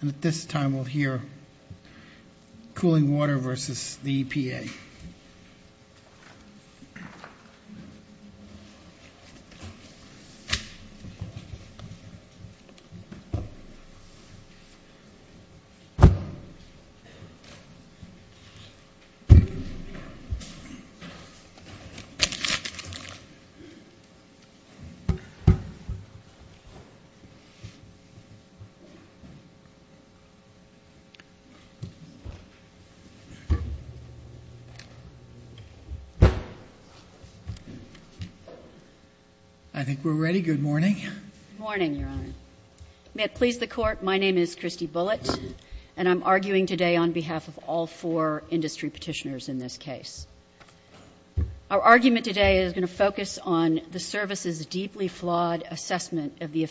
And at this time we'll hear cooling water versus the EPA. I think we're ready. Good morning. Good morning, Your Honor. May it please the Court, my name is Christy Bullitt and I'm arguing today on behalf of all four industry petitioners in this case. Our argument today is going to focus on the service's deeply flawed assessment of the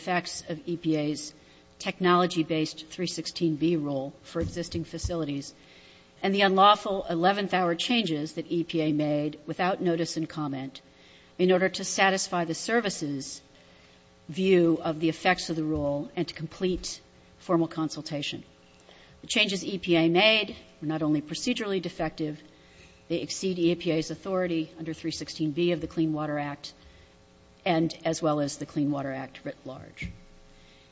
rule for existing facilities and the unlawful 11th hour changes that EPA made without notice and comment in order to satisfy the service's view of the effects of the rule and to complete formal consultation. The changes EPA made were not only procedurally defective, they exceed EPA's authority under 316B of the Clean Water Act and as well as the Clean Water Act writ large.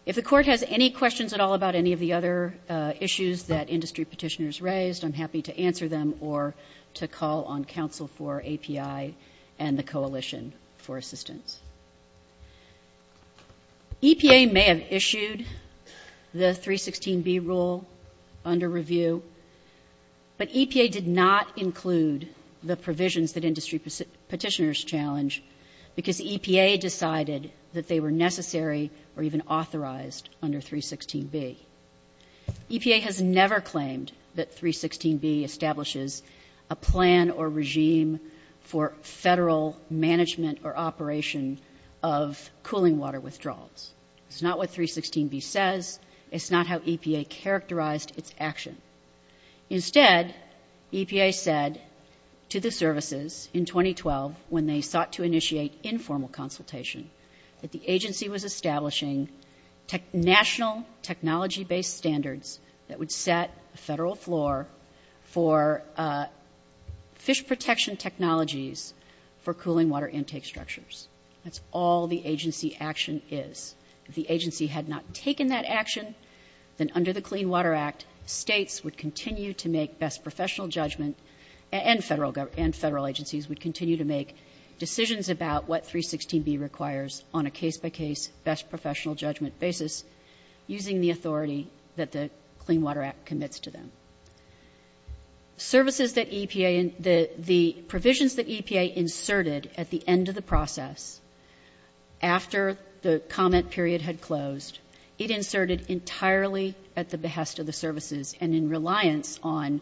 If the Court has any questions at all about any of the other issues that industry petitioners raised, I'm happy to answer them or to call on counsel for API and the coalition for assistance. EPA may have issued the 316B rule under review, but EPA did not include the provisions that are even authorized under 316B. EPA has never claimed that 316B establishes a plan or regime for federal management or operation of cooling water withdrawals. It's not what 316B says. It's not how EPA characterized its action. Instead, EPA said to the services in 2012 when they sought to initiate informal consultation that the agency was establishing national technology-based standards that would set a federal floor for fish protection technologies for cooling water intake structures. That's all the agency action is. If the agency had not taken that action, then under the Clean Water Act, states would continue to make best professional judgment and federal agencies would continue to make decisions about what 316B requires on a case-by-case, best professional judgment basis using the authority that the Clean Water Act commits to them. Services that EPA the provisions that EPA inserted at the end of the process, after the comment period had closed, it inserted entirely at the behest of the services and in reliance on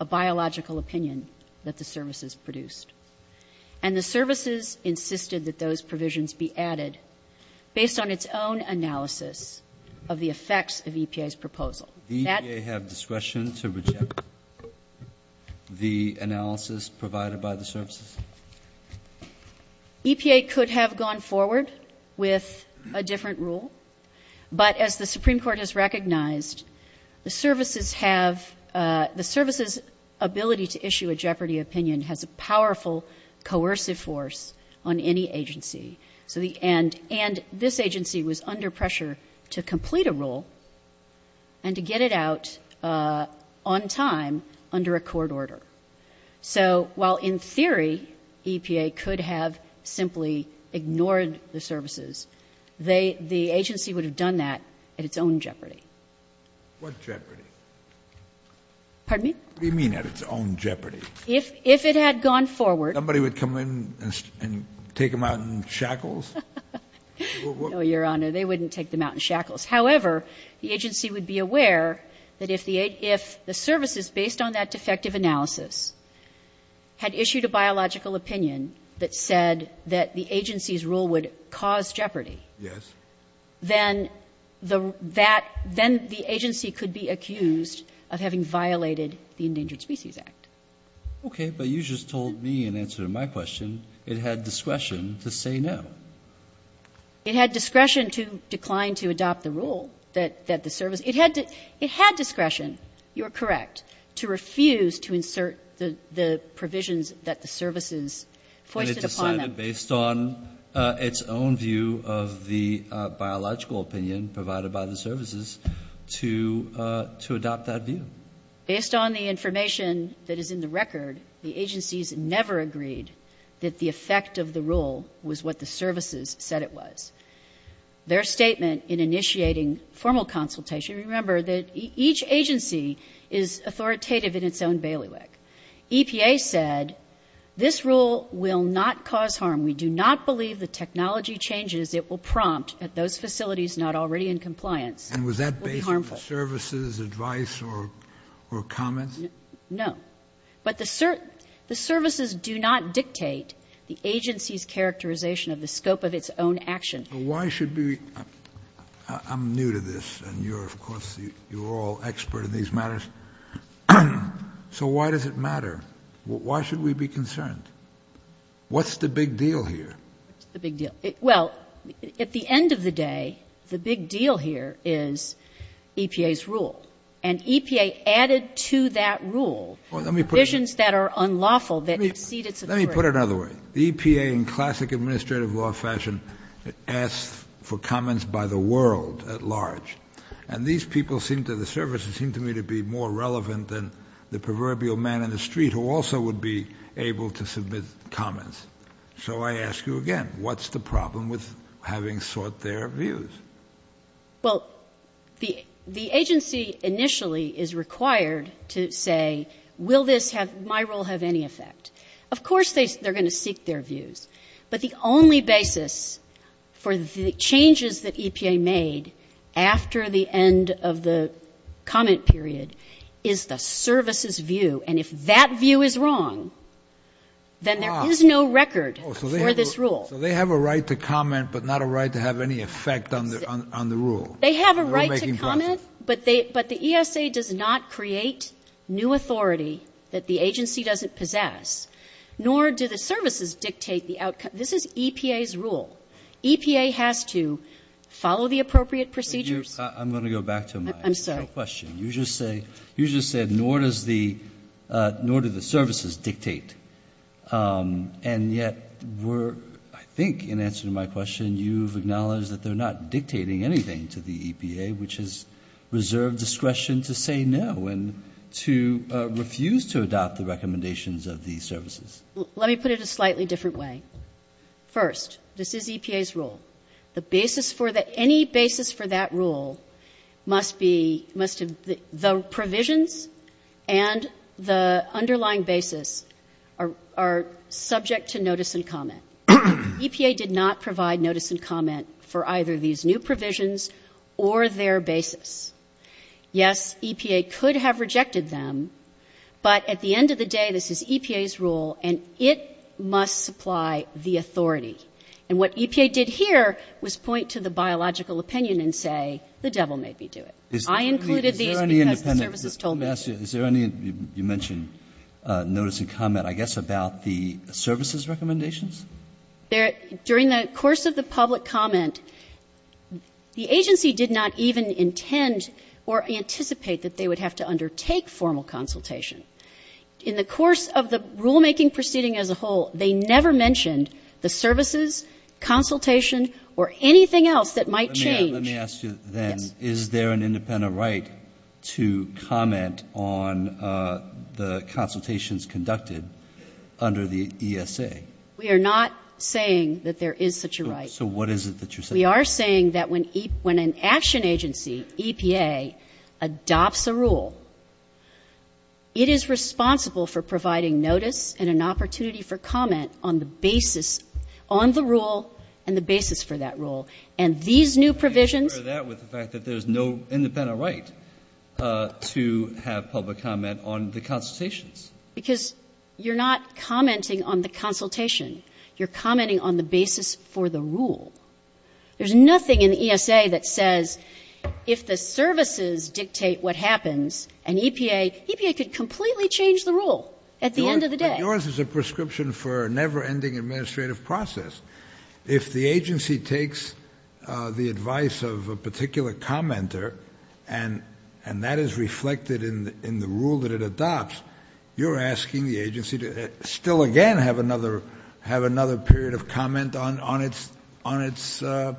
a biological opinion that the services produced. And the services insisted that those provisions be added based on its own analysis of the effects of EPA's proposal. That — Do EPA have discretion to reject the analysis provided by the services? EPA could have gone forward with a different rule. But as the Supreme Court has recognized, the services have — the services' ability to issue a jeopardy opinion has a powerful coercive force on any agency. So the — and — and this agency was under pressure to complete a rule and to get it out on time under a court order. So while, in theory, EPA could have simply ignored the services, they — the agency would have done that at its own jeopardy. What jeopardy? Pardon me? What do you mean at its own jeopardy? If — if it had gone forward — Somebody would come in and take them out in shackles? No, Your Honor. They wouldn't take them out in shackles. However, the agency would be aware that if the — if the services, based on that defective analysis, had issued a biological opinion that said that the agency's rule would cause jeopardy — Yes. Then the — that — then the agency could be accused of having violated the Endangered Species Act. Okay. But you just told me, in answer to my question, it had discretion to say no. It had discretion to decline to adopt the rule that — that the service — it had to — it had discretion, you are correct, to refuse to insert the — the provisions that the services foisted upon them. Well, it was decided based on its own view of the biological opinion provided by the services to — to adopt that view. Based on the information that is in the record, the agencies never agreed that the effect of the rule was what the services said it was. Their statement in initiating formal consultation — remember that each agency is authoritative in its own bailiwick. EPA said, this rule will not cause harm. We do not believe the technology changes it will prompt at those facilities not already in compliance will be harmful. And was that based on the services' advice or — or comments? No. But the — the services do not dictate the agency's characterization of the scope of its own action. Why should we — I'm new to this, and you're, of course, you're all expert in these matters. So why does it matter? Why should we be concerned? What's the big deal here? What's the big deal? Well, at the end of the day, the big deal here is EPA's rule. And EPA added to that rule provisions that are unlawful that exceed its authority. Let me put it another way. The EPA, in classic administrative law fashion, asks for comments by the world at large. And these people seem to — the services seem to me to be more relevant than the proverbial man in the street who also would be able to submit comments. So I ask you again, what's the problem with having sought their views? Well, the — the agency initially is required to say, will this have — my rule have any effect? Of course they're going to seek their views. But the only basis for the changes that EPA made after the end of the comment period is the service's view. And if that view is wrong, then there is no record for this rule. So they have a right to comment, but not a right to have any effect on the rule? They have a right to comment, but they — but the ESA does not create new This is EPA's rule. EPA has to follow the appropriate procedures. I'm going to go back to my initial question. You just say — you just said, nor does the — nor do the services dictate. And yet, we're — I think, in answer to my question, you've acknowledged that they're not dictating anything to the EPA, which has reserved discretion to say no and to refuse to adopt the recommendations of these services. Let me put it a slightly different way. First, this is EPA's rule. The basis for the — any basis for that rule must be — must — the provisions and the underlying basis are subject to notice and comment. EPA did not provide notice and comment for either these new provisions or their basis. Yes, EPA could have rejected them, but at the end of the day, this is EPA's rule, and it must supply the authority. And what EPA did here was point to the biological opinion and say, the devil made me do it. I included these because the services told me to. Is there any — you mentioned notice and comment, I guess, about the services' recommendations? During the course of the public comment, the agency did not even intend or anticipate that they would have to undertake formal consultation. In the course of the rulemaking proceeding as a whole, they never mentioned the services, consultation, or anything else that might change. Let me ask you then, is there an independent right to comment on the consultations conducted under the ESA? We are not saying that there is such a right. So what is it that you're saying? We are saying that when an action agency, EPA, adopts a rule, it is responsible for providing notice and an opportunity for comment on the basis — on the rule and the basis for that rule. And these new provisions — I'm not sure of that with the fact that there's no independent right to have public comment on the consultations. Because you're not commenting on the consultation. You're commenting on the basis for the rule. There's nothing in the ESA that says, if the services dictate what happens, and EPA — EPA could completely change the rule at the end of the day. But yours is a prescription for a never-ending administrative process. If the agency takes the advice of a particular commenter and that is reflected in the rule that it adopts, you're asking the agency to still again have another — have another period of comment on its — on its —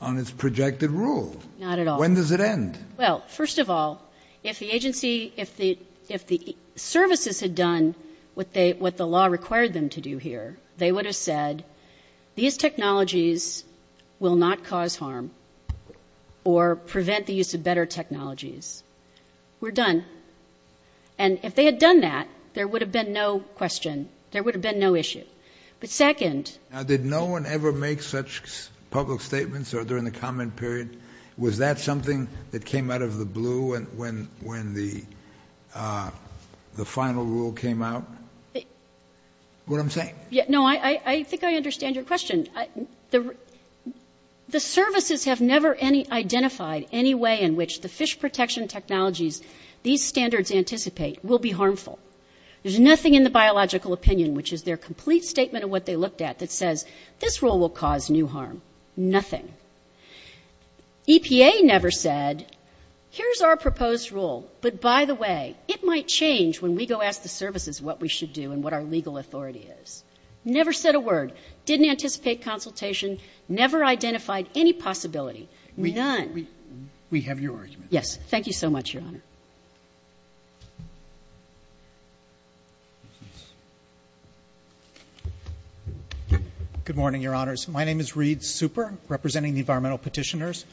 on its projected rule. Not at all. When does it end? Well, first of all, if the agency — if the — if the services had done what they — what the law required them to do here, they would have said, these technologies will not cause harm or prevent the use of better technologies. We're done. And if they had done that, there would have been no question. There would have been no issue. But second — Now, did no one ever make such public statements or during the comment period? Was that something that came out of the blue when — when — when the — the final rule came out? What I'm saying? Yeah, no, I — I think I understand your question. The services have never any — identified any way in which the fish protection technologies these standards anticipate will be harmful. There's nothing in the biological opinion, which is their complete statement of what they looked at, that says this rule will cause new harm. Nothing. EPA never said, here's our proposed rule, but by the way, it might change when we go ask the services what we should do and what our legal authority is. Never said a word. Didn't anticipate consultation. Never identified any possibility. None. We have your argument. Yes. Thank you so much, Your Honor. Good morning, Your Honors. My name is Reed Super, representing the environmental petitioners.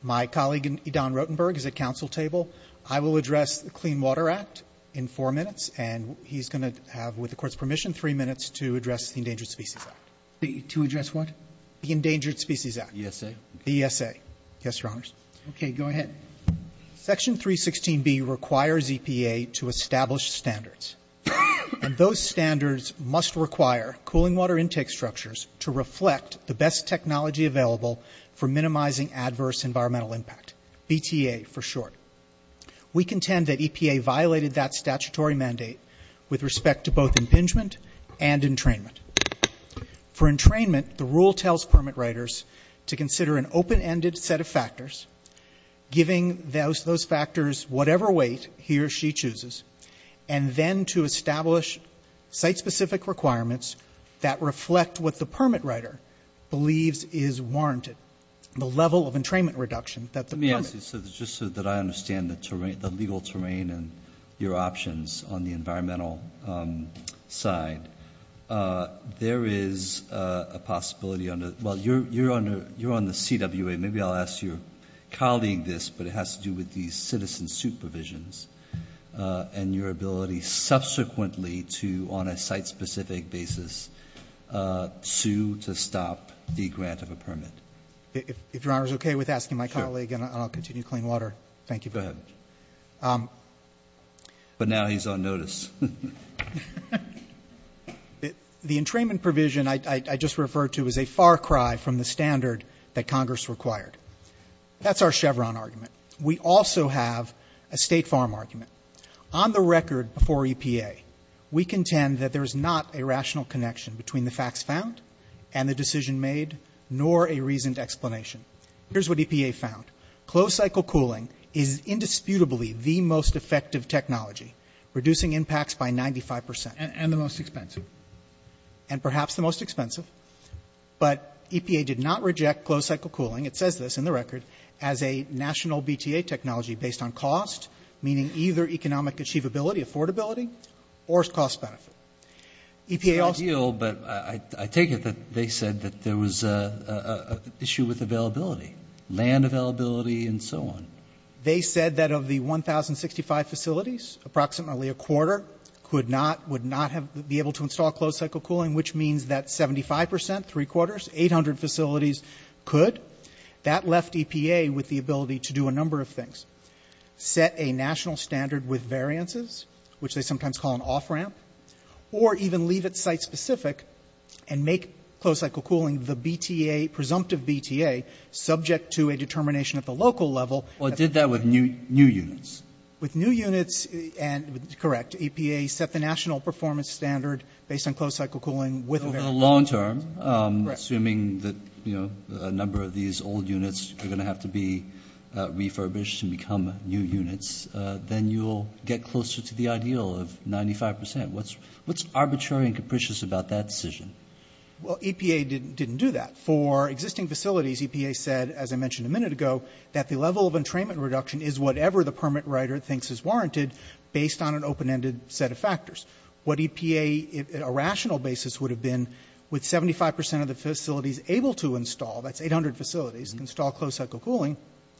My colleague, Don Rotenberg, is at council table. I will address the Clean Water Act in four minutes, and he's going to have, with the Court's permission, three minutes to address the Endangered Species Act. To address what? The Endangered Species Act. The ESA. The ESA. Yes, Your Honors. Okay, go ahead. Section 316B requires EPA to establish standards, and those standards must require cooling water intake structures to reflect the best technology available for minimizing adverse environmental impact, BTA for short. We contend that EPA violated that statutory mandate with respect to both impingement and entrainment. For entrainment, the rule tells permit writers to consider an open-ended set of factors, giving those factors whatever weight he or she chooses, and then to establish site-specific requirements that reflect what the permit writer believes is warranted, the level of entrainment reduction that the permit... Let me ask you, just so that I understand the legal terrain and your options on the environmental side. There is a possibility on the... Well, you're on the CWA. Maybe I'll ask your colleague this, but it has to do with the citizen supervisions and your ability subsequently to, on a site-specific basis, sue to stop the grant of a permit. If Your Honour is OK with asking my colleague, and I'll continue clean water. Thank you. Go ahead. But now he's on notice. The entrainment provision I just referred to is a far cry from the standard that Congress required. That's our Chevron argument. We also have a State Farm argument. On the record before EPA, we contend that there is not a rational connection between the facts found and the decision made, nor a reasoned explanation. Here's what EPA found. Closed-cycle cooling is indisputably the most effective technology, reducing impacts by 95%. And the most expensive. And perhaps the most expensive. But EPA did not reject closed-cycle cooling, it says this in the record, as a national BTA technology based on cost, meaning either economic achievability, affordability, or cost benefit. EPA also- It's not ideal, but I take it that they said that there was a issue with availability. Land availability and so on. They said that of the 1,065 facilities, approximately a quarter would not be able to install closed-cycle cooling, which means that 75%, three quarters, 800 facilities could. That left EPA with the ability to do a number of things. Set a national standard with variances, which they sometimes call an off-ramp, or even leave it site-specific, and make closed-cycle cooling the BTA, presumptive BTA, subject to a determination at the local level. Well, it did that with new units. With new units, correct. EPA set the national performance standard based on closed-cycle cooling with variances. So for the long term, assuming that a number of these old units are gonna have to be refurbished and become new units, then you'll get closer to the ideal of 95%. What's arbitrary and capricious about that decision? Well, EPA didn't do that. For existing facilities, EPA said, as I mentioned a minute ago, that the level of entrainment reduction is whatever the permit writer thinks is warranted, based on an open-ended set of factors. What EPA, a rational basis would have been, with 75% of the facilities able to install, that's 800 facilities, install closed-cycle cooling,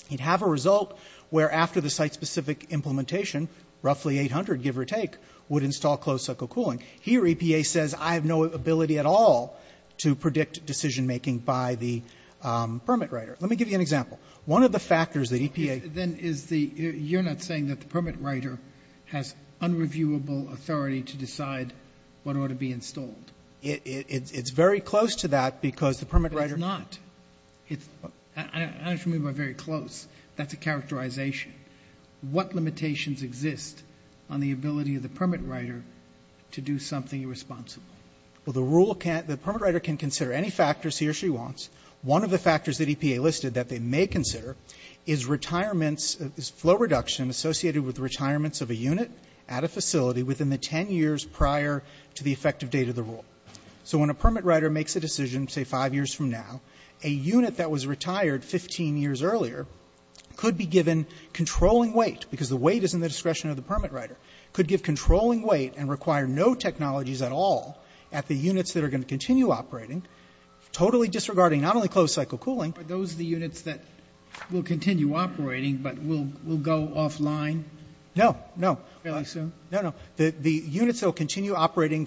you'd have a result where, after the site-specific implementation, roughly 800, give or take, would install closed-cycle cooling. Here, EPA says, I have no ability at all to predict decision-making by the permit writer. Let me give you an example. One of the factors that EPA- Then is the, you're not saying that the permit writer has unreviewable authority to decide what ought to be installed? It's very close to that because the permit writer- But it's not. It's, I don't know if you mean by very close. That's a characterization. What limitations exist on the ability of the permit writer to do something irresponsible? Well, the rule can't, the permit writer can consider any factors he or she wants. One of the factors that EPA listed that they may consider is retirements, is flow reduction associated with retirements of a unit at a facility within the 10 years prior to the effective date of the rule. So when a permit writer makes a decision, say five years from now, a unit that was retired 15 years earlier could be given controlling weight because the weight is in the discretion of the permit writer, could give controlling weight and require no technologies at all at the units that are gonna continue operating, totally disregarding not only closed cycle cooling- Are those the units that will continue operating but will go offline? No, no. Really, so? No, no. The units that will continue operating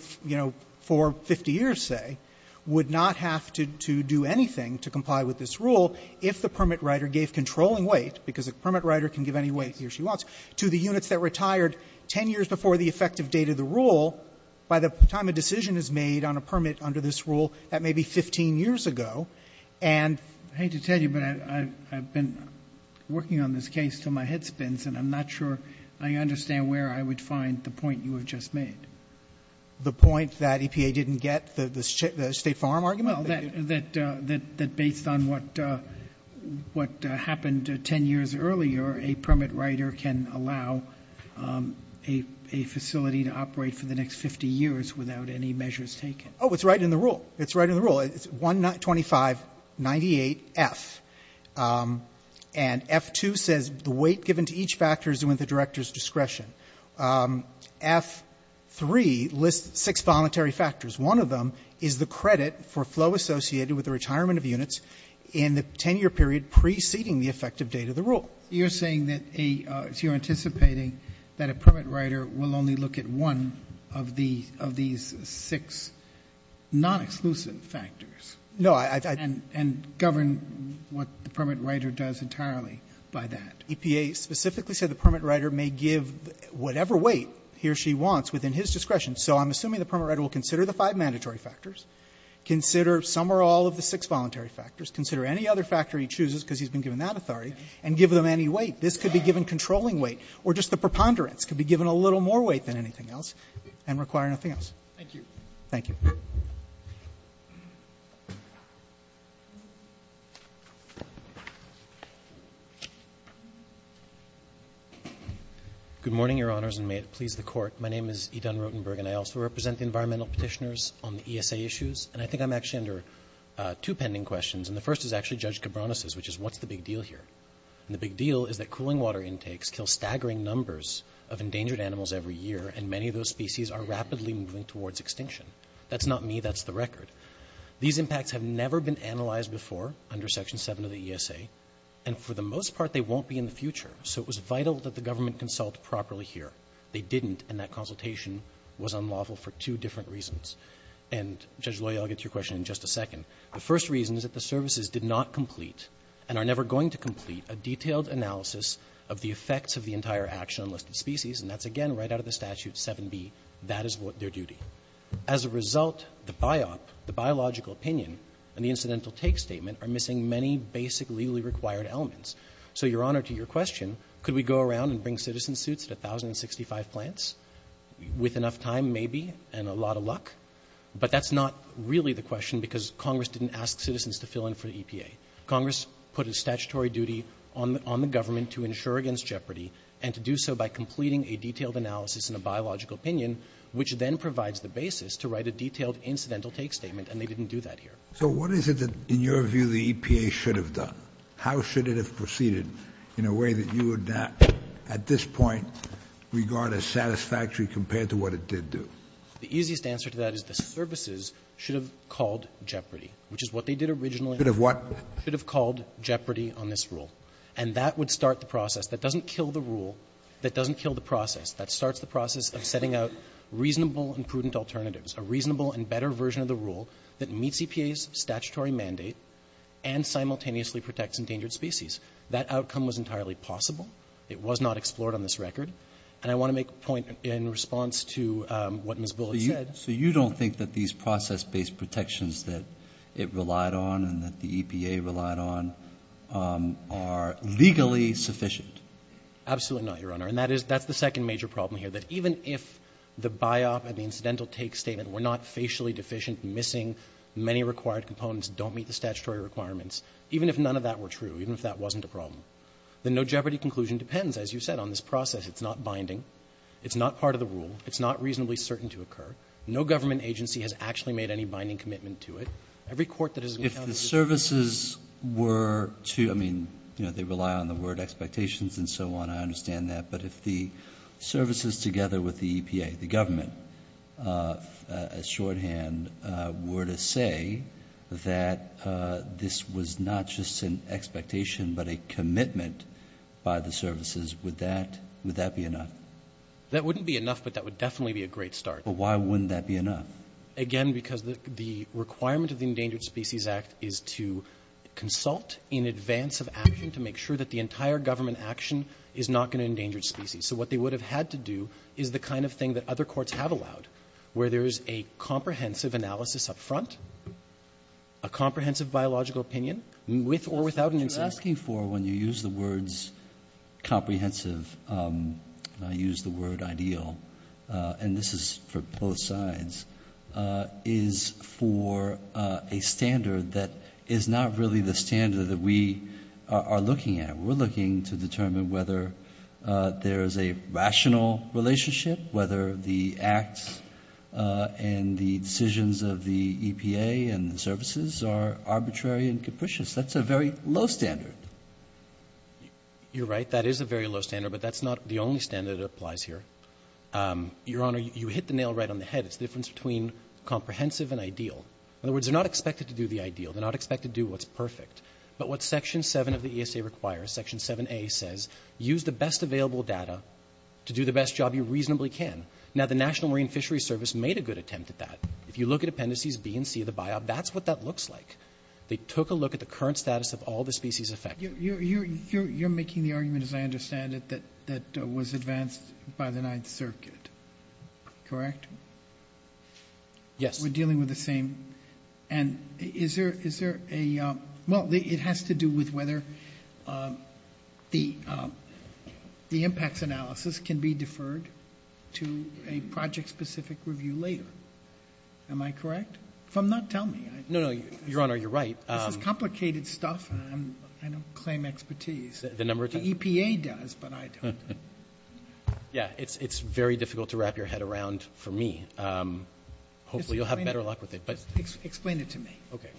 for 50 years, say, would not have to do anything to comply with this rule if the permit writer gave controlling weight, because a permit writer can give any weight he or she wants, to the units that retired 10 years before the effective date of the rule by the time a decision is made on a permit under this rule that may be 15 years ago and- I hate to tell you, but I've been working on this case till my head spins and I'm not sure I understand where I would find the point you have just made. The point that EPA didn't get the State Farm argument? Well, that based on what happened 10 years earlier, a permit writer can allow a facility to operate for the next 50 years without any measures taken. Oh, it's right in the rule. It's right in the rule. It's 1-25-98-F. And F2 says the weight given to each factor is within the director's discretion. F3 lists six voluntary factors. One of them is the credit for flow associated with the retirement of units in the 10-year period preceding the effective date of the rule. You're saying that a, so you're anticipating that a permit writer will only look at one of these six non-exclusive factors? No, I- And govern what the permit writer does entirely by that. EPA specifically said the permit writer may give whatever weight he or she wants within his discretion. So I'm assuming the permit writer will consider the five mandatory factors, consider some or all of the six voluntary factors, consider any other factor he chooses because he's been given that authority, and give them any weight. This could be given controlling weight or just the preponderance could be given a little more weight than anything else and require nothing else. Thank you. Thank you. Good morning, your honors, and may it please the court. My name is Edan Rotenberg and I also represent the environmental petitioners on the ESA issues. And I think I'm actually under two pending questions. And the first is actually Judge Cabronis' which is what's the big deal here? And the big deal is that cooling water intakes kill staggering numbers of endangered animals every year. And many of those species are rapidly moving towards extinction. That's not me, that's the record. These impacts have never been analyzed before under section seven of the ESA. And for the most part, they won't be in the future. So it was vital that the government consult properly here. They didn't and that consultation was unlawful for two different reasons. And Judge Loy, I'll get to your question in just a second. The first reason is that the services did not complete and are never going to complete a detailed analysis of the effects of the entire action on listed species. And that's again, right out of the statute 7B, that is what their duty. As a result, the biop, the biological opinion and the incidental take statement are missing many basic legally required elements. So Your Honor, to your question, could we go around and bring citizen suits at 1,065 plants with enough time maybe and a lot of luck? But that's not really the question because Congress didn't ask citizens to fill in for the EPA. Congress put a statutory duty on the government to ensure against jeopardy and to do so by completing a detailed analysis and a biological opinion, which then provides the basis to write a detailed incidental take statement and they didn't do that here. So what is it that in your view the EPA should have done? How should it have proceeded in a way that you would not at this point regard as satisfactory compared to what it did do? The easiest answer to that is the services should have called jeopardy, which is what they did originally. Should have what? Should have called jeopardy on this rule. And that would start the process. That doesn't kill the rule. That doesn't kill the process. That starts the process of setting out reasonable and prudent alternatives, a reasonable and better version of the rule that meets EPA's statutory mandate and simultaneously protects endangered species. That outcome was entirely possible. It was not explored on this record. And I want to make a point in response to what Ms. Bullock said. So you don't think that these process-based protections that it relied on and that the EPA relied on are legally sufficient? Absolutely not, Your Honor. And that's the second major problem here, that even if the biop and the incidental take statement were not facially deficient, missing many required components, don't meet the statutory requirements, even if none of that were true, even if that wasn't a problem, the no jeopardy conclusion depends, as you said, on this process. It's not binding. It's not part of the rule. It's not reasonably certain to occur. No government agency has actually made any binding commitment to it. Every court that has encountered this. If the services were to, I mean, they rely on the word expectations and so on, I understand that. But if the services together with the EPA, the government, as shorthand, were to say that this was not just an expectation, but a commitment by the services, would that be enough? That wouldn't be enough, but that would definitely be a great start. But why wouldn't that be enough? Again, because the requirement of the Endangered Species Act is to consult in advance of action to make sure that the entire government action is not going to endanger species. So what they would have had to do is the kind of thing that other courts have allowed, where there's a comprehensive analysis up front, a comprehensive biological opinion, with or without an instance. That's what you're asking for when you use the words comprehensive. I use the word ideal. And this is for both sides. Is for a standard that is not really the standard that we are looking at. We're looking to determine whether there's a rational relationship, whether the acts and the decisions of the EPA and the services are arbitrary and capricious. That's a very low standard. You're right, that is a very low standard, but that's not the only standard that applies here. Your Honor, you hit the nail right on the head. It's the difference between comprehensive and ideal. In other words, they're not expected to do the ideal. They're not expected to do what's perfect. But what section seven of the ESA requires, section 7A says, use the best available data to do the best job you reasonably can. Now, the National Marine Fisheries Service made a good attempt at that. If you look at appendices B and C of the biop, that's what that looks like. They took a look at the current status of all the species affected. You're making the argument, as I understand it, that was advanced by the Ninth Circuit, correct? Yes. We're dealing with the same, and is there a, well, it has to do with whether the impacts analysis can be deferred to a project-specific review later. Am I correct? If I'm not, tell me. No, no, Your Honor, you're right. This is complicated stuff, and I don't claim expertise. The number of times? The EPA does, but I don't. Yeah, it's very difficult to wrap your head around for me. Hopefully, you'll have better luck with it, but. Explain it to me. Okay.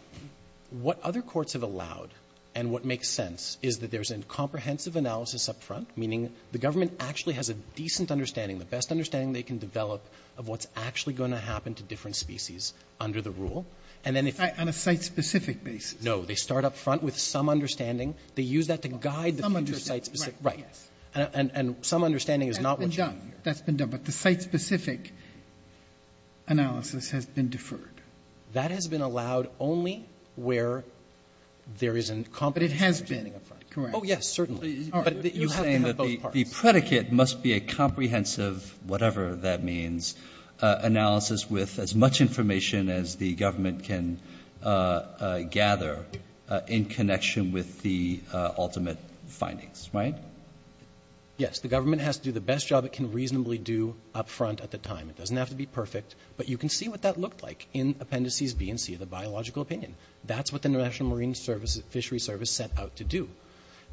What other courts have allowed, and what makes sense, is that there's a comprehensive analysis up front, meaning the government actually has a decent understanding, the best understanding they can develop of what's actually gonna happen to different species under the rule, and then if. On a site-specific basis. No, they start up front with some understanding. They use that to guide the future site-specific. Right, yes. And some understanding is not what you need. That's been done, but the site-specific analysis has been deferred. That has been allowed only where there is competent understanding up front, correct? Oh, yes, certainly, but you have to have both parts. The predicate must be a comprehensive, whatever that means, analysis with as much information as the government can gather in connection with the ultimate findings, right? Yes, the government has to do the best job it can reasonably do up front at the time. It doesn't have to be perfect, but you can see what that looked like in Appendices B and C of the biological opinion. That's what the International Fishery Service set out to do.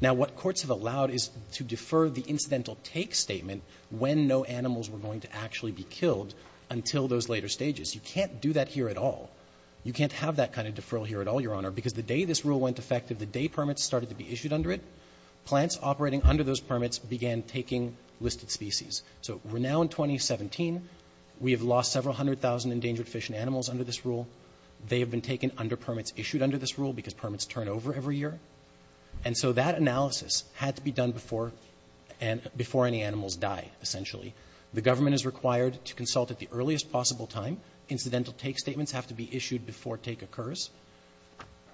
Now, what courts have allowed is to defer the incidental take statement when no animals were going to actually be killed until those later stages. You can't do that here at all. You can't have that kind of deferral here at all, Your Honor, because the day this rule went effective, the day permits started to be issued under it, plants operating under those permits began taking listed species. So we're now in 2017. We have lost several hundred thousand endangered fish and animals under this rule. They have been taken under permits issued under this rule because permits turn over every year. And so that analysis had to be done before any animals die, essentially. The government is required to consult at the earliest possible time. Incidental take statements have to be issued before take occurs.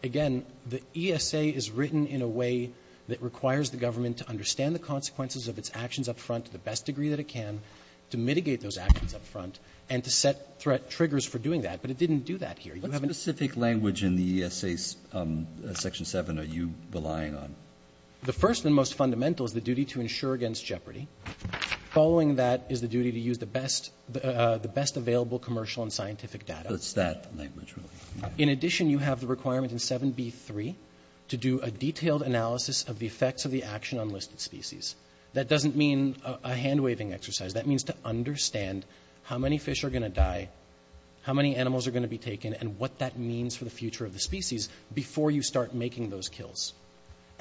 Again, the ESA is written in a way that requires the government to understand the consequences of its actions up front to the best degree that it can to mitigate those actions up front and to set threat triggers for doing that, but it didn't do that here. You haven't. What specific language in the ESA's section seven are you relying on? The first and most fundamental is the duty to ensure against jeopardy. Following that is the duty to use the best available commercial and scientific data. What's that language really? In addition, you have the requirement in 7B3 to do a detailed analysis of the effects of the action on listed species. That doesn't mean a hand-waving exercise. That means to understand how many fish are gonna die, how many animals are gonna be taken, and what that means for the future of the species before you start making those kills.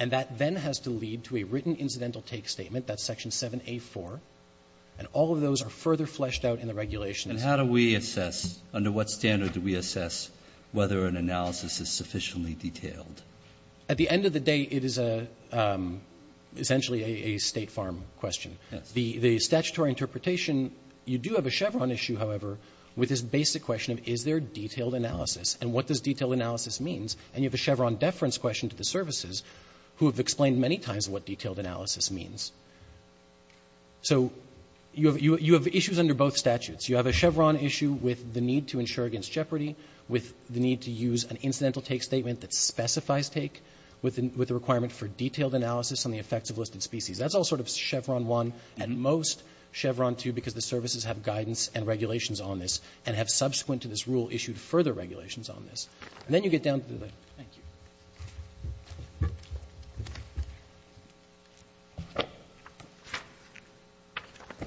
And that then has to lead to a written incidental take statement. That's section 7A4. And all of those are further fleshed out in the regulations. And how do we assess? Under what standard do we assess whether an analysis is sufficiently detailed? At the end of the day, it is essentially a state farm question. The statutory interpretation, you do have a Chevron issue, however, with this basic question of is there detailed analysis? And what does detailed analysis means? And you have a Chevron deference question to the services who have explained many times what detailed analysis means. So you have issues under both statutes. You have a Chevron issue with the need to ensure against jeopardy, with the need to use an incidental take statement that specifies take with the requirement for detailed analysis on the effects of listed species. That's all sort of Chevron one, and most Chevron two because the services have guidance and regulations on this and have subsequent to this rule issued further regulations on this. And then you get down to the next. Thank you.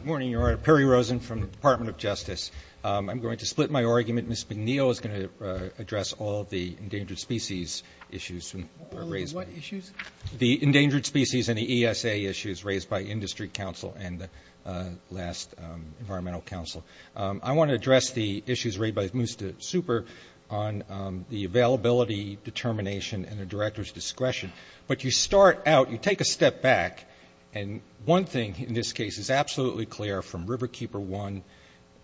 Perry Rosen from the Department of Justice. I'm going to split my argument. Ms. McNeil is going to address all of the endangered species issues raised by the ESA issues and the last environmental council. I want to address the issues raised by Mr. Super on the availability determination and the director's discretion. But you start out, you take a step back, and one thing in this case is absolutely clear from Riverkeeper one,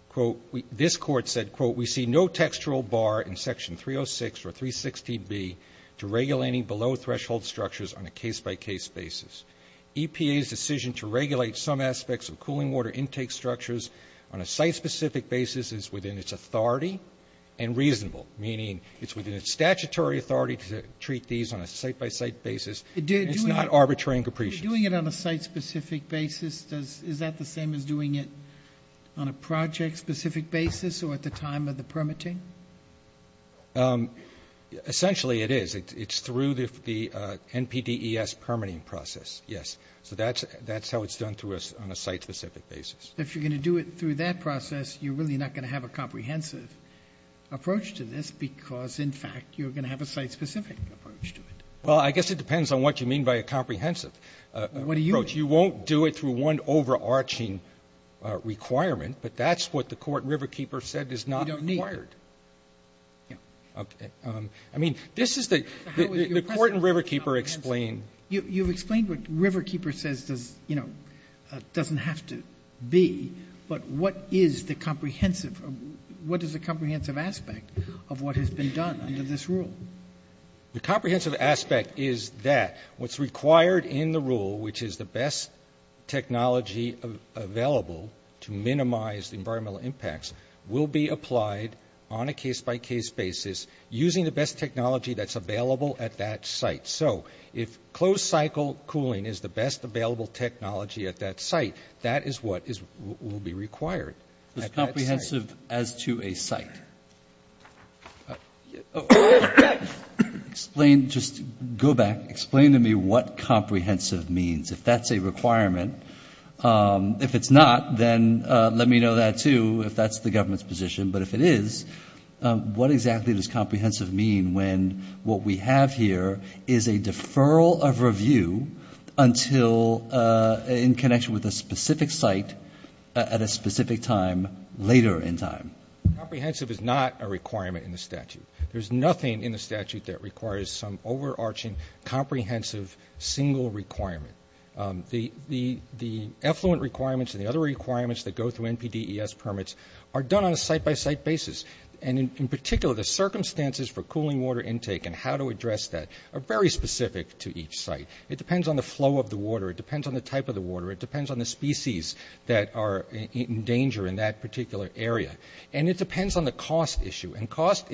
quote, this court said, quote, we see no textual bar in section 306 or 360B to regulate any below threshold structures on a case-by-case basis. EPA's decision to regulate some aspects of cooling water intake structures on a site-specific basis is within its authority and reasonable, meaning it's within its statutory authority to treat these on a site-by-site basis. It's not arbitrary and capricious. Doing it on a site-specific basis, is that the same as doing it on a project-specific basis or at the time of the permitting? Essentially, it is. It's through the NPDES permitting process, yes. So that's how it's done to us on a site-specific basis. If you're going to do it through that process, you're really not going to have a comprehensive approach to this because, in fact, you're going to have a site-specific approach to it. Well, I guess it depends on what you mean by a comprehensive approach. You won't do it through one overarching requirement, but that's what the court Riverkeeper said is not required. You don't need. Yeah. OK. I mean, this is the court and Riverkeeper explain. You've explained what Riverkeeper says doesn't have to be, but what is the comprehensive? What is the comprehensive aspect of what has been done under this rule? The comprehensive aspect is that what's required in the rule, which is the best technology available to minimize environmental impacts, will be applied on a case-by-case basis using the best technology that's available at that site. So if closed-cycle cooling is the best available technology at that site, that is what will be required. It's comprehensive as to a site. Explain, just go back. Explain to me what comprehensive means. If that's a requirement. If it's not, then let me know that, too, if that's the government's position. But if it is, what exactly does comprehensive mean when what we have here is a deferral of review until in connection with a specific site at a specific time later in time? Comprehensive is not a requirement in the statute. There's nothing in the statute that requires some overarching comprehensive single requirement. The effluent requirements and the other requirements that go through NPDES permits are done on a site-by-site basis. And in particular, the circumstances for cooling water intake and how to address that are very specific to each site. It depends on the flow of the water. It depends on the type of the water. It depends on the species that are in danger in that particular area. And it depends on the cost issue. And cost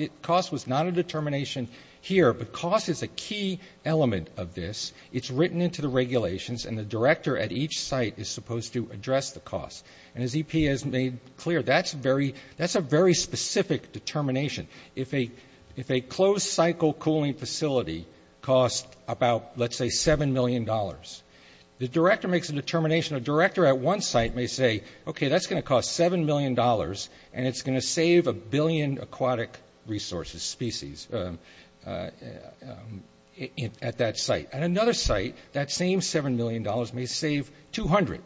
was not a determination here. But cost is a key element of this. It's written into the regulations. And the director at each site is supposed to address the cost. And as EP has made clear, that's a very specific determination. If a closed cycle cooling facility costs about, let's say, $7 million, the director makes a determination. A director at one site may say, OK, that's going to cost $7 million. And it's going to save a billion aquatic resources species at that site. At another site, that same $7 million may save 200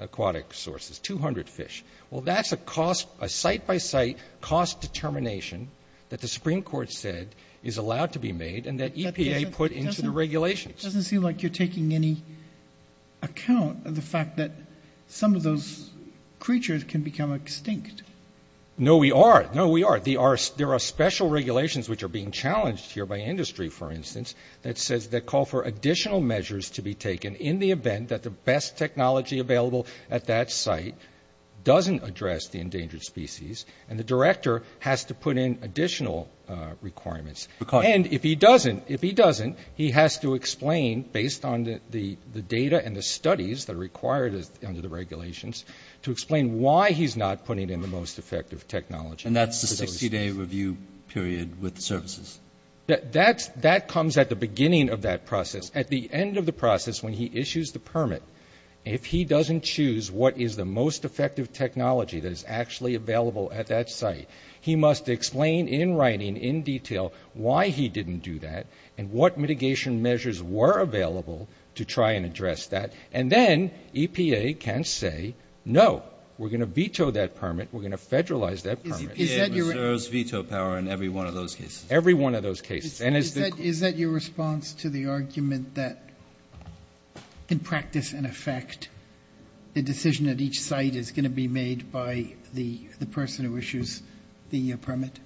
aquatic sources, 200 fish. Well, that's a site-by-site cost determination that the Supreme Court said is allowed to be made and that EPA put into the regulations. Doesn't seem like you're taking any account of the fact that some of those creatures can become extinct. No, we are. No, we are. There are special regulations which are being challenged here by industry, for instance, that says they call for additional measures to be taken in the event that the best technology available at that site doesn't address the endangered species. And the director has to put in additional requirements. And if he doesn't, he has to explain, based on the data and the studies that are required under the regulations, to explain why he's not putting in the most effective technology. And that's the 60-day review period with the services? That comes at the beginning of that process. At the end of the process, when he issues the permit, if he doesn't choose what is the most effective technology that is actually available at that site, he must explain in writing, in detail, why he didn't do that and what mitigation measures were available to try and address that. And then EPA can say, no, we're going to veto that permit. We're going to federalize that permit. Is EPA reserves veto power in every one of those cases? Every one of those cases. And is that your response to the argument that, in practice and effect, the decision at each site is going to be made by the person who issues the permit?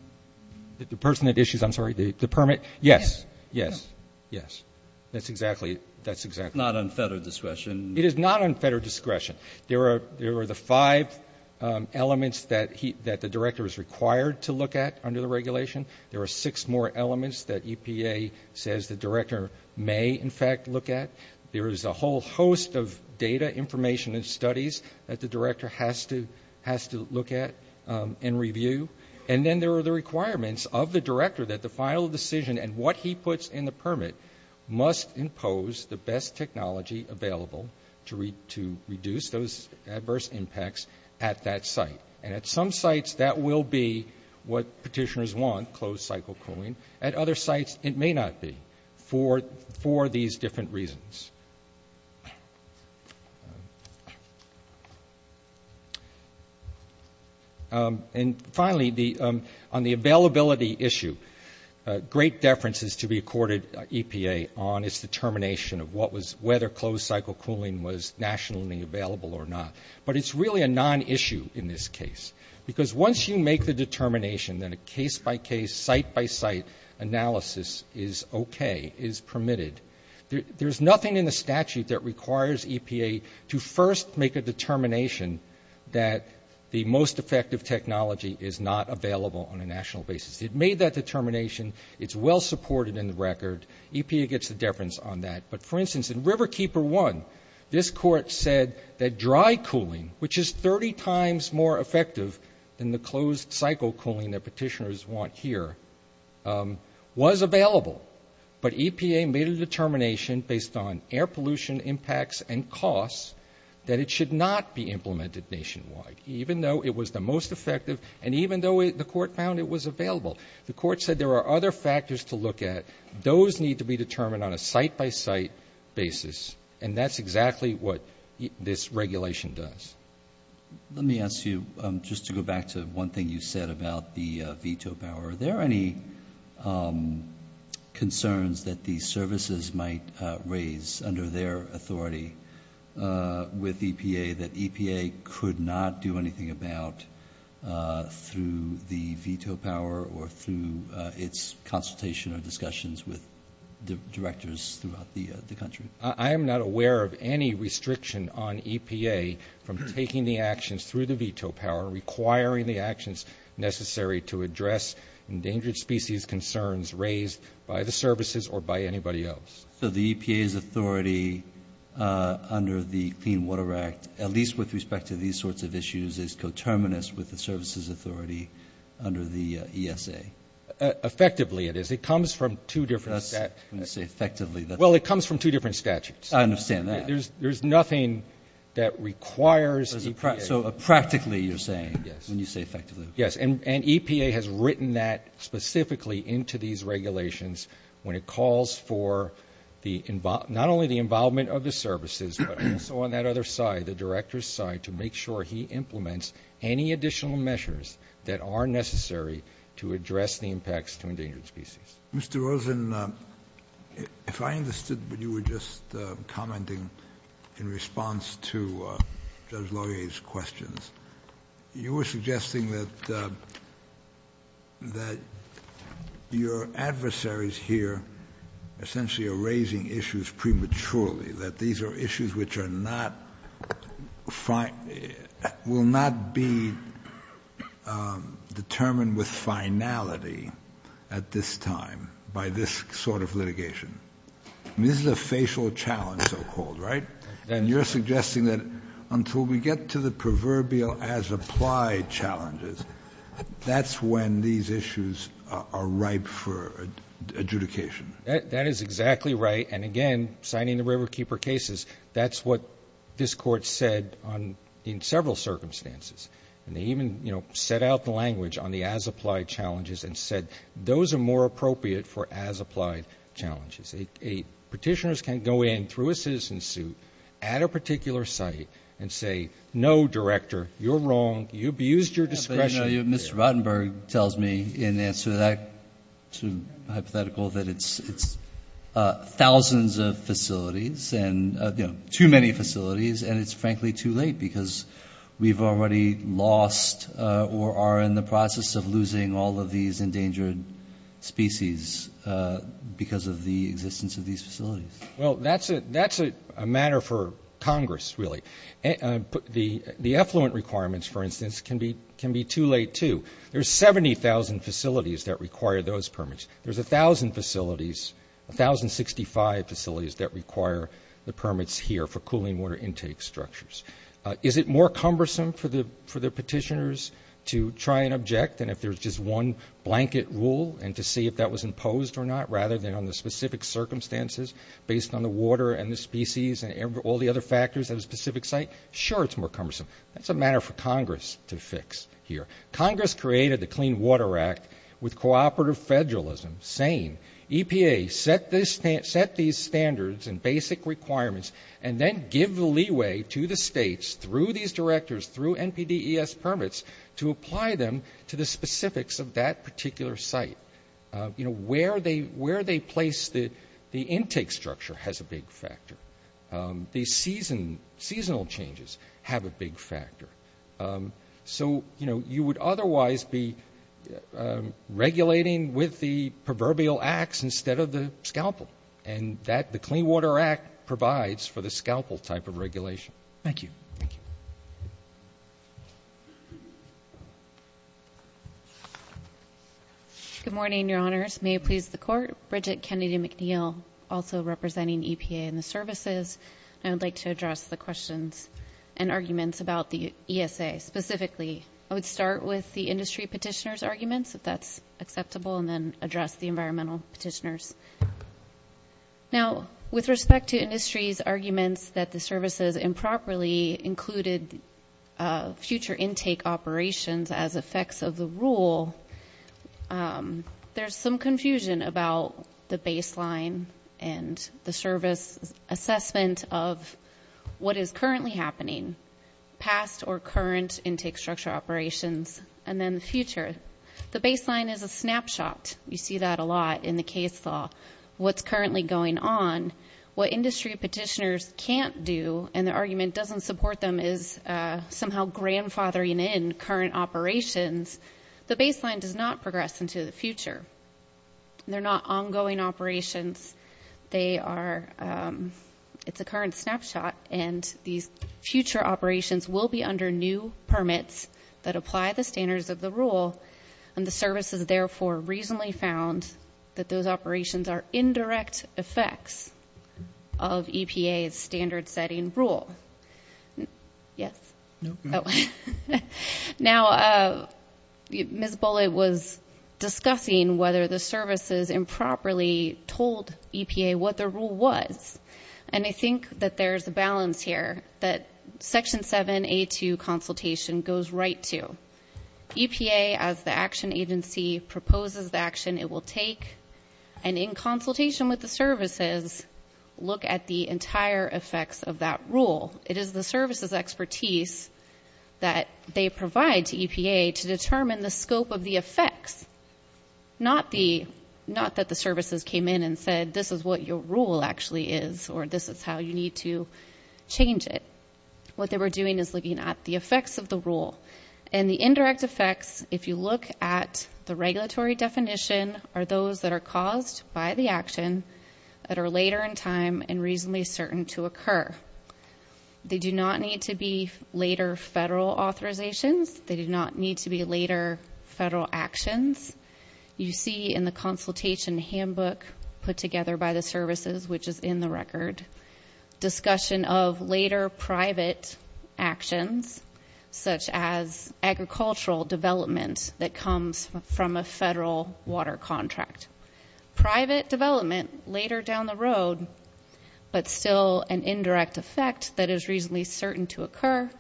The person that issues, I'm sorry, the permit? Yes. Yes. Yes. That's exactly it. That's exactly it. Not on federal discretion. It is not on federal discretion. There are the five elements that the director is required to look at under the regulation. There are six more elements that EPA says the director may, in fact, look at. There is a whole host of data, information, and studies that the director has to look at and review. And then there are the requirements of the director that the final decision and what he puts in the permit must impose the best technology available to reduce those adverse impacts at that site. And at some sites, that will be what petitioners want, closed-cycle cooling. At other sites, it may not be for these different reasons. And finally, on the availability issue, great deference is to be accorded EPA on its determination of whether closed-cycle cooling was nationally available or not. But it's really a non-issue in this case. Because once you make the determination that a case-by-case, site-by-site analysis is OK, is permitted, there's nothing in the statute that requires EPA to first make a determination that the most effective technology is not available on a national basis. It made that determination. It's well-supported in the record. EPA gets the deference on that. But for instance, in Riverkeeper 1, this court said that dry cooling, which is 30 times more effective than the closed-cycle cooling that petitioners want here, was available. But EPA made a determination based on air pollution impacts and costs that it should not be implemented nationwide, even though it was the most effective and even though the court found it was available. The court said there are other factors to look at. Those need to be determined on a site-by-site basis. And that's exactly what this regulation does. Let me ask you, just to go back to one thing you said about the veto power, are there any concerns that these services might raise under their authority with EPA that EPA could not do anything about through the veto power or through its consultation or discussions with the directors throughout the country? I am not aware of any restriction on EPA from taking the actions through the veto power, requiring the actions necessary to address endangered species concerns raised by the services or by anybody else. So the EPA's authority under the Clean Water Act, at least with respect to these sorts of issues, is coterminous with the services authority under the ESA? Effectively, it is. It comes from two different sets. That's when you say effectively. Well, it comes from two different statutes. I understand that. There's nothing that requires EPA. So practically, you're saying, when you say effectively. Yes, and EPA has written that specifically into these regulations when it calls for not only the involvement of the services, but also on that other side, the director's side, to make sure he implements any additional measures that are necessary to address the impacts to endangered species. Mr. Rosen, if I understood what you were just commenting in response to Judge Laurier's questions, you were suggesting that your adversaries here essentially are raising issues prematurely, that these are issues which will not be determined with finality at this time by this sort of litigation. This is a facial challenge, so-called, right? And you're suggesting that until we get to the proverbial as-applied challenges, that's when these issues are ripe for adjudication. That is exactly right. And again, signing the Riverkeeper cases, that's what this Court said in several circumstances. And they even set out the language on the as-applied challenges and said, those are more appropriate for as-applied challenges. Petitioners can go in through a citizen suit at a particular site and say, no, director, you're wrong. You abused your discretion. Mr. Rotenberg tells me in answer to that hypothetical that it's thousands of facilities, and too many facilities. And it's frankly too late, because we've already lost or are in the process of losing all of these endangered species because of the existence of these facilities. Well, that's a matter for Congress, really. The effluent requirements, for instance, can be too late too. There's 70,000 facilities that require those permits. There's 1,000 facilities, 1,065 facilities that require the permits here for cooling water intake structures. Is it more cumbersome for the petitioners to try and object than if there's just one blanket rule and to see if that was imposed or not, rather than on the specific circumstances based on the water and the species and all the other factors at a specific site? Sure, it's more cumbersome. That's a matter for Congress to fix here. Congress created the Clean Water Act with cooperative federalism saying, EPA, set these standards and basic requirements, and then give the leeway to the states through these directors, through NPDES permits, to apply them to the specifics of that particular site. Where they place the intake structure has a big factor. The seasonal changes have a big factor. So you would otherwise be regulating with the proverbial acts instead of the scalpel. And the Clean Water Act provides for the scalpel type of regulation. Thank you. Thank you. Good morning, your honors. May it please the court. Bridget Kennedy McNeil, also representing EPA and the services. I would like to address the questions and arguments about the ESA specifically. I would start with the industry petitioner's arguments, if that's acceptable, and then address the environmental petitioners. Now, with respect to industry's arguments that the services improperly included future intake operations as effects of the rule, there's some confusion about the baseline and the service assessment of what is currently happening, past or current intake structure operations, and then the future. The baseline is a snapshot. You see that a lot in the case law. What's currently going on, what industry petitioners can't do, and the argument doesn't support them is somehow grandfathering in current operations, the baseline does not progress into the future. They're not ongoing operations. They are, it's a current snapshot. And these future operations will be under new permits that apply the standards of the rule. And the services, therefore, recently found that those operations are indirect effects of EPA's standard setting rule. Yes. Now, Ms. Bullitt was discussing whether the services improperly told EPA what the rule was. And I think that there is a balance here that Section 7A2 consultation goes right to. EPA, as the action agency proposes the action, it will take, and in consultation with the services, look at the entire effects of that rule. It is the services' expertise that they provide to EPA to determine the scope of the effects, not that the services came in and said, this is what your rule actually is, or this is how you need to change it. What they were doing is looking at the effects of the rule and the indirect effects. If you look at the regulatory definition, are those that are caused by the action that are later in time and reasonably certain to occur. They do not need to be later federal authorizations. They do not need to be later federal actions. You see in the consultation handbook put together by the services, which is in the record, discussion of later private actions, such as agricultural development that comes from a federal water contract. Private development later down the road, but still an indirect effect that is reasonably certain to occur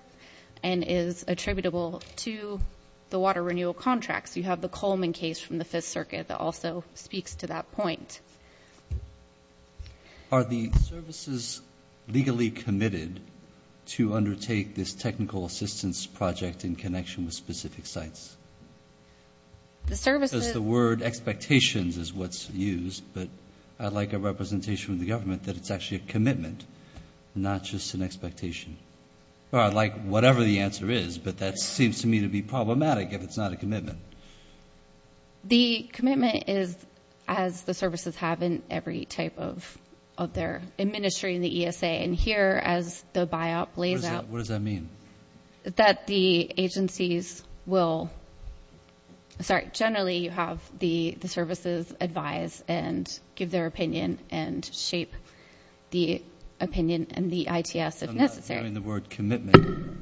and is attributable to the water renewal contracts. You have the Coleman case from the Fifth Circuit that also speaks to that point. Are the services legally committed to undertake this technical assistance project in connection with specific sites? The word expectations is what's used, but I'd like a representation from the government that it's actually a commitment, not just an expectation. I'd like whatever the answer is, but that seems to me to be problematic if it's not a commitment. The commitment is, as the services say, is have in every type of their administering the ESA. And here, as the BIOP lays out... What does that mean? That the agencies will... Sorry, generally, you have the services advise and give their opinion and shape the opinion and the ITS, if necessary. I'm not hearing the word commitment.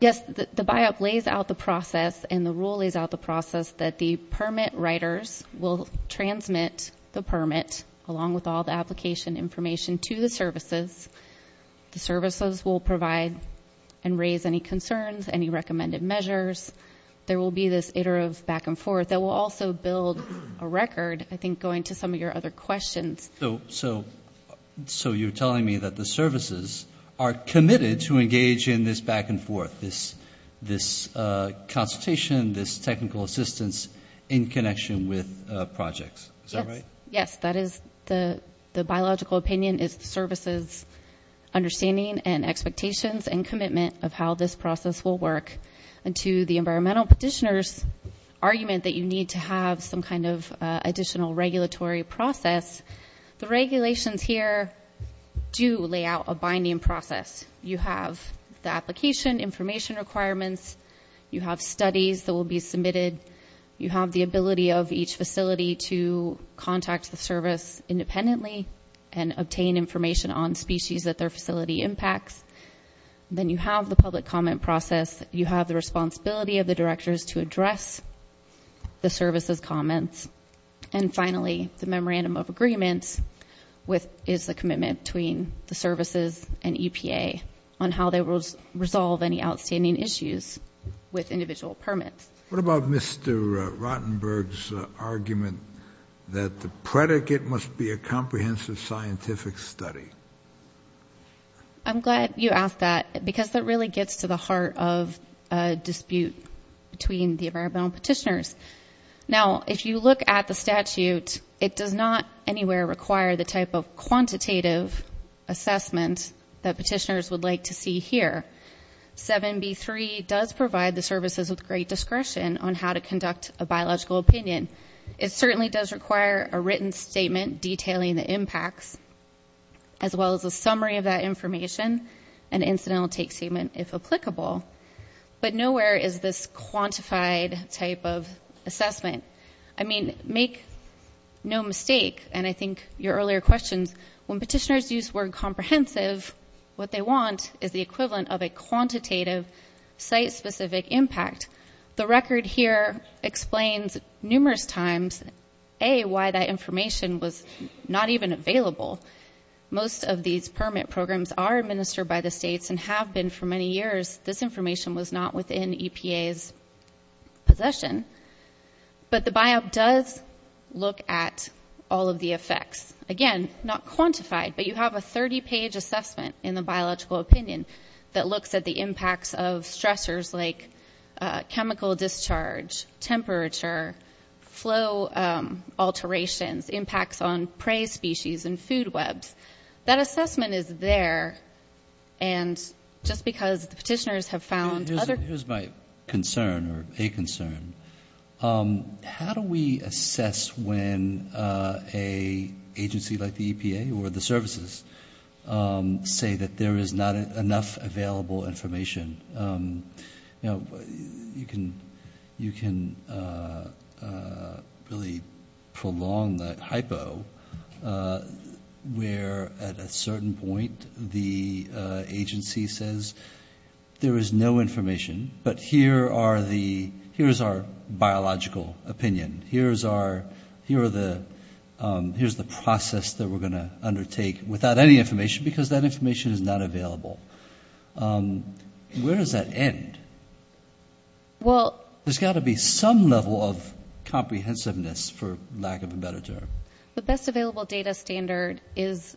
Yes, the BIOP lays out the process and the rule lays out the process that the permit writers will transmit the permit, along with all the application information to the services. The services will provide and raise any concerns, any recommended measures. There will be this iterative back and forth that will also build a record, I think, going to some of your other questions. So you're telling me that the services are committed to engage in this back and forth, this consultation, this technical assistance in connection with projects. Is that right? Yes, that is the biological opinion. It's the services' understanding and expectations and commitment of how this process will work. And to the environmental petitioner's argument that you need to have some kind of additional regulatory process, the regulations here do lay out a binding process. You have the application information requirements. You have studies that will be submitted. You have the ability of each facility to contact the service independently and obtain information on species that their facility impacts. Then you have the public comment process. You have the responsibility of the directors to address the services' comments. And finally, the memorandum of agreement is the commitment between the services and EPA on how they will resolve any outstanding issues with individual permits. What about Mr. Rottenberg's argument that the predicate must be a comprehensive scientific study? I'm glad you asked that because that really gets to the heart of a dispute between the environmental petitioners. Now, if you look at the statute, it does not anywhere require the type of quantitative assessment that petitioners would like to see here. 7B3 does provide the services with great discretion on how to conduct a biological opinion. It certainly does require a written statement detailing the impacts, as well as a summary of that information, an incidental take statement if applicable. But nowhere is this quantified type of assessment. I mean, make no mistake, and I think your earlier questions, when petitioners use the word comprehensive, what they want is the equivalent of a quantitative site-specific impact. The record here explains numerous times, A, why that information was not even available. Most of these permit programs are administered by the states and have been for many years. This information was not within EPA's possession. But the BIOB does look at all of the effects. Again, not quantified, but you have a 30-page assessment in the biological opinion that looks at the impacts of stressors like chemical discharge, temperature, flow alterations, impacts on prey species and food webs. That assessment is there, and just because the petitioners have found other- Here's my concern, or a concern. How do we assess when an agency like the EPA or the services say that there is not enough available information? You can really prolong that hypo where at a certain point the agency says there is no information, but here's our biological opinion. Here's the process that we're going to undertake without any information because that information is not available. Where does that end? There's got to be some level of comprehensiveness, for lack of a better term. The best available data standard does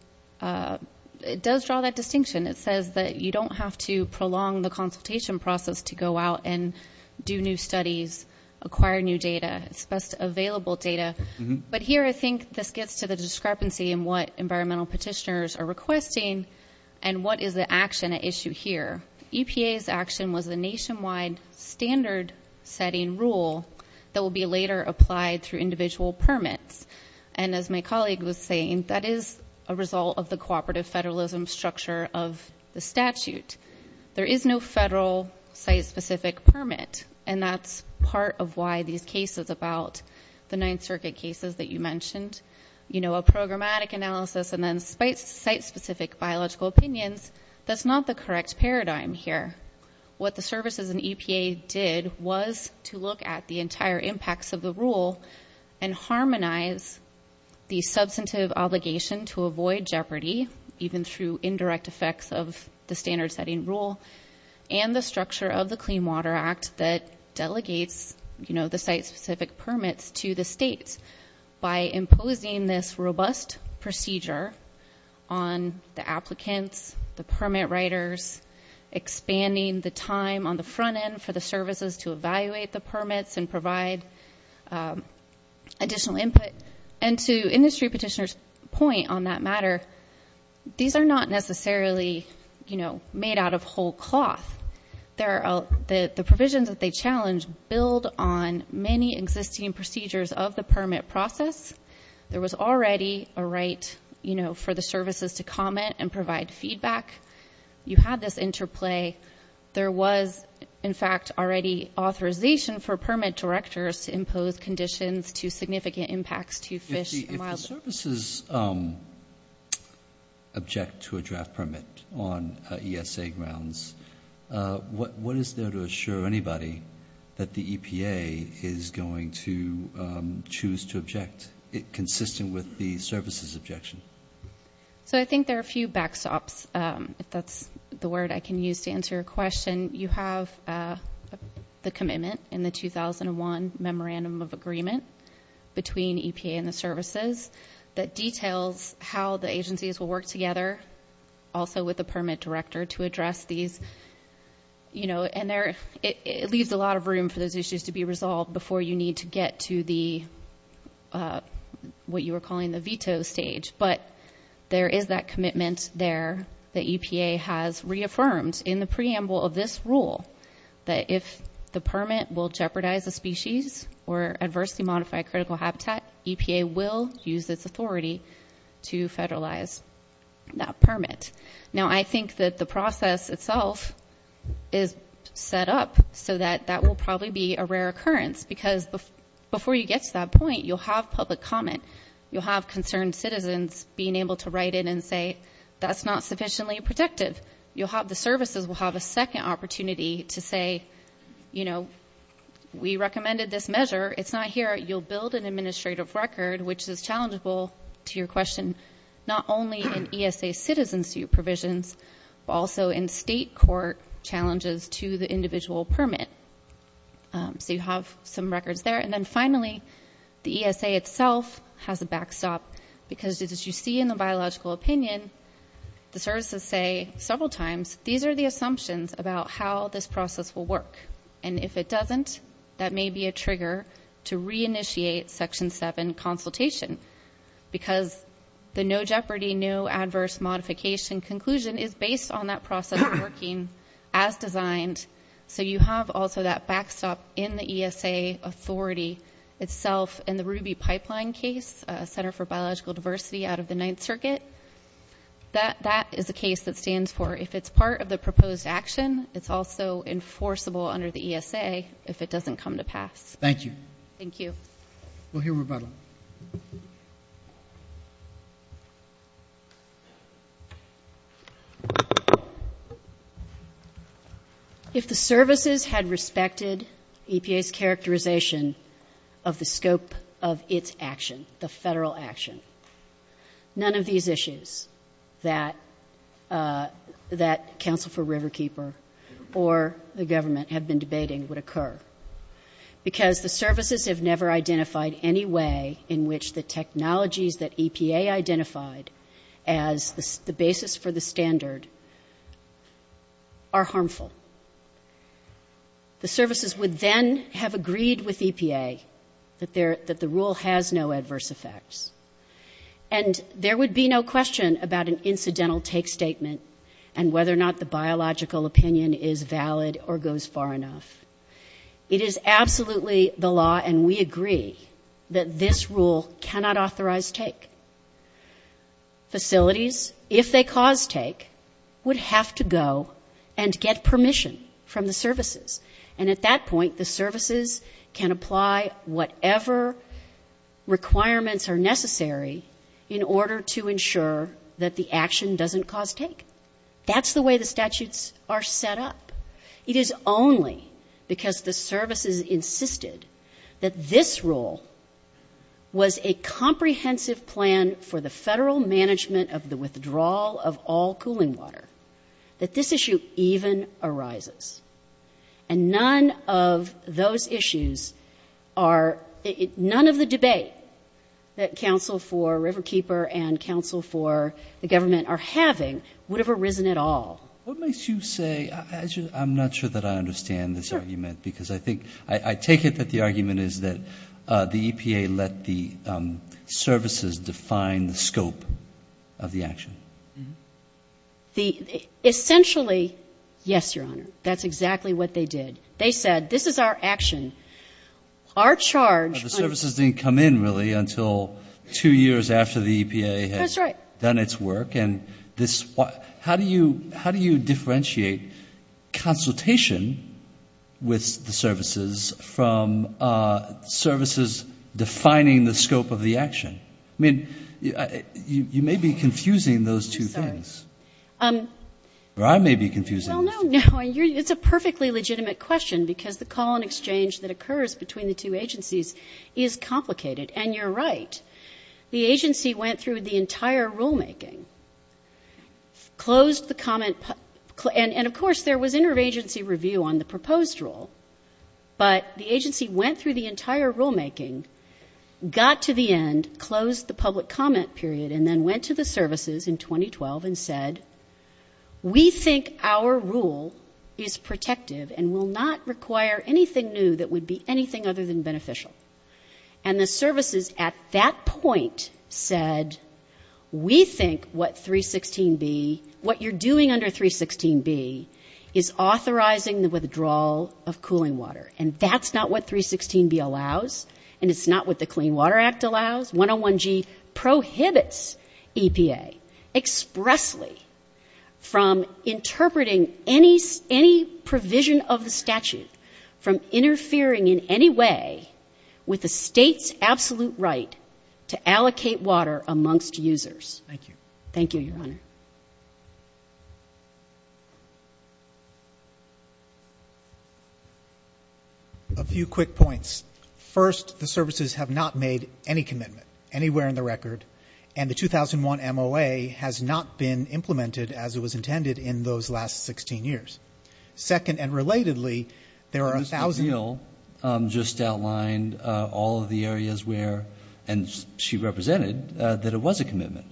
draw that distinction. It says that you don't have to prolong the consultation process to go out and do new studies, acquire new data. It's best available data, but here I think this gets to the discrepancy in what environmental petitioners are requesting and what is the action at issue here. EPA's action was the nationwide standard-setting rule that will be later applied through individual permits, and as my colleague was saying, that is a result of the cooperative federalism structure of the statute. There is no federal site-specific permit, and that's part of why these cases about the Ninth Circuit cases that you mentioned, you know, a programmatic analysis and then site-specific biological opinions, that's not the correct paradigm here. What the services and EPA did was to look at the entire impacts of the rule and harmonize the substantive obligation to avoid jeopardy, even through indirect effects of the standard-setting rule and the structure of the Clean Water Act that delegates, you know, the site-specific permits to the states by imposing this robust procedure on the applicants, the permit writers, expanding the time on the front end for the services to evaluate the permits and provide additional input. And to industry petitioners' point on that matter, these are not necessarily, you know, made out of whole cloth. There are the provisions that they challenge build on many existing procedures of the permit process. There was already a right, you know, for the services to comment and provide feedback. You had this interplay. There was, in fact, already authorization for permit directors to impose conditions to significant impacts to fish and wildlife. If the services object to a draft permit on ESA grounds, what is there to assure anybody that the EPA is going to choose to object, consistent with the services objection? So I think there are a few backstops, if that's the word I can use to answer your question. You have the commitment in the 2001 Memorandum of Agreement between EPA and the services that details how the agencies will work together, also with the permit director, to address these. You know, and it leaves a lot of room for those issues to be resolved before you need to get to the, what you were calling the veto stage. But there is that commitment there that EPA has reaffirmed. In the preamble of this rule, that if the permit will jeopardize a species or adversely modify critical habitat, EPA will use its authority to federalize that permit. Now, I think that the process itself is set up so that that will probably be a rare occurrence because before you get to that point, you'll have public comment. You'll have concerned citizens being able to write in and say, that's not sufficiently protective. You'll have, the services will have a second opportunity to say, you know, we recommended this measure. It's not here. You'll build an administrative record, which is challengeable to your question, not only in ESA citizenship provisions, but also in state court challenges to the individual permit. So you have some records there. And then finally, the ESA itself has a backstop because as you see in the biological opinion, the services say several times, these are the assumptions about how this process will work. And if it doesn't, that may be a trigger to reinitiate section seven consultation because the no jeopardy, no adverse modification conclusion is based on that process working as designed. So you have also that backstop in the ESA authority itself in the Ruby pipeline case, a center for biological diversity out of the ninth circuit. That is a case that stands for, if it's part of the proposed action, it's also enforceable under the ESA if it doesn't come to pass. Thank you. Thank you. We'll hear rebuttal. If the services had respected EPA's characterization of the scope of its action, the federal action, none of these issues that Council for Riverkeeper or the government have been debating would occur because the services have never identified any way in which the technologies that EPA identified as the basis for the standard are harmful. The services would then have agreed with EPA that the rule has no adverse effects. And there would be no question about an incidental take statement and whether or not the biological opinion is valid or goes far enough. It is absolutely the law and we agree that this rule cannot authorize take. Facilities, if they cause take, would have to go and get permission from the services. And at that point, the services can apply whatever requirements are necessary in order to ensure that the action doesn't cause take. That's the way the statutes are set up. It is only because the services insisted that this rule was a comprehensive plan for the federal management of the withdrawal of all cooling water that this issue even arises. And none of those issues are, none of the debate that Council for Riverkeeper and Council for the government are having would have arisen at all. What makes you say, I'm not sure that I understand this argument because I think, I take it that the argument is that the EPA let the services define the scope of the action. Essentially, yes, Your Honor, that's exactly what they did. They said, this is our action. Our charge. But the services didn't come in really until two years after the EPA had done its work. And this, how do you differentiate consultation with the services from services defining the scope of the action? I mean, you may be confusing those two things. Or I may be confusing this. Well, no, no, it's a perfectly legitimate question because the call and exchange that occurs between the two agencies is complicated. And you're right. The agency went through the entire rulemaking, closed the comment, and of course, there was interagency review on the proposed rule. But the agency went through the entire rulemaking, got to the end, closed the public comment period, and then went to the services in 2012 and said, we think our rule is protective and will not require anything new that would be anything other than beneficial. And the services at that point said, we think what 316B, what you're doing under 316B is authorizing the withdrawal of cooling water. And that's not what 316B allows. And it's not what the Clean Water Act allows. 101G prohibits EPA expressly from interpreting any provision of the statute from interfering in any way with the state's absolute right to allocate water amongst users. Thank you. Thank you, Your Honor. A few quick points. First, the services have not made any commitment anywhere in the record. And the 2001 MOA has not been implemented as it was intended in those last 16 years. Second, and relatedly, there are 1,000- Mr. O'Neill just outlined all of the areas where, and she represented that it was a commitment.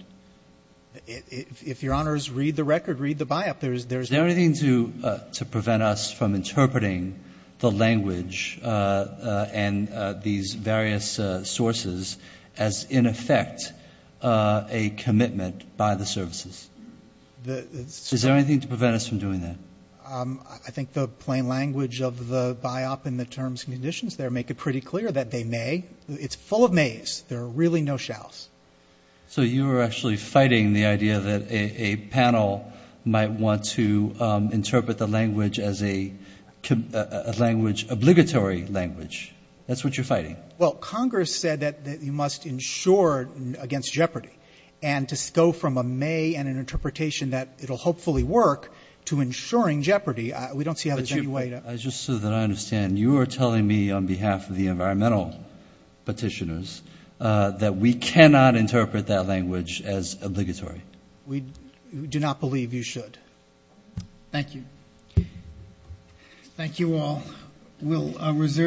If Your Honors read the record, read the biop, there's- Is there anything to prevent us from interpreting the language and these various sources as, in effect, a commitment by the services? Is there anything to prevent us from doing that? I think the plain language of the biop and the terms and conditions there make it pretty clear that they may. It's full of mays. There are really no shalls. So you are actually fighting the idea that a panel might want to interpret the language as a language, obligatory language. That's what you're fighting. Well, Congress said that you must insure against jeopardy. And to go from a may and an interpretation that it'll hopefully work to insuring jeopardy, we don't see how there's any way to- But you, just so that I understand, you are telling me on behalf of the environmental petitioners that we cannot interpret that language as obligatory. We do not believe you should. Thank you. Thank you all. We'll reserve.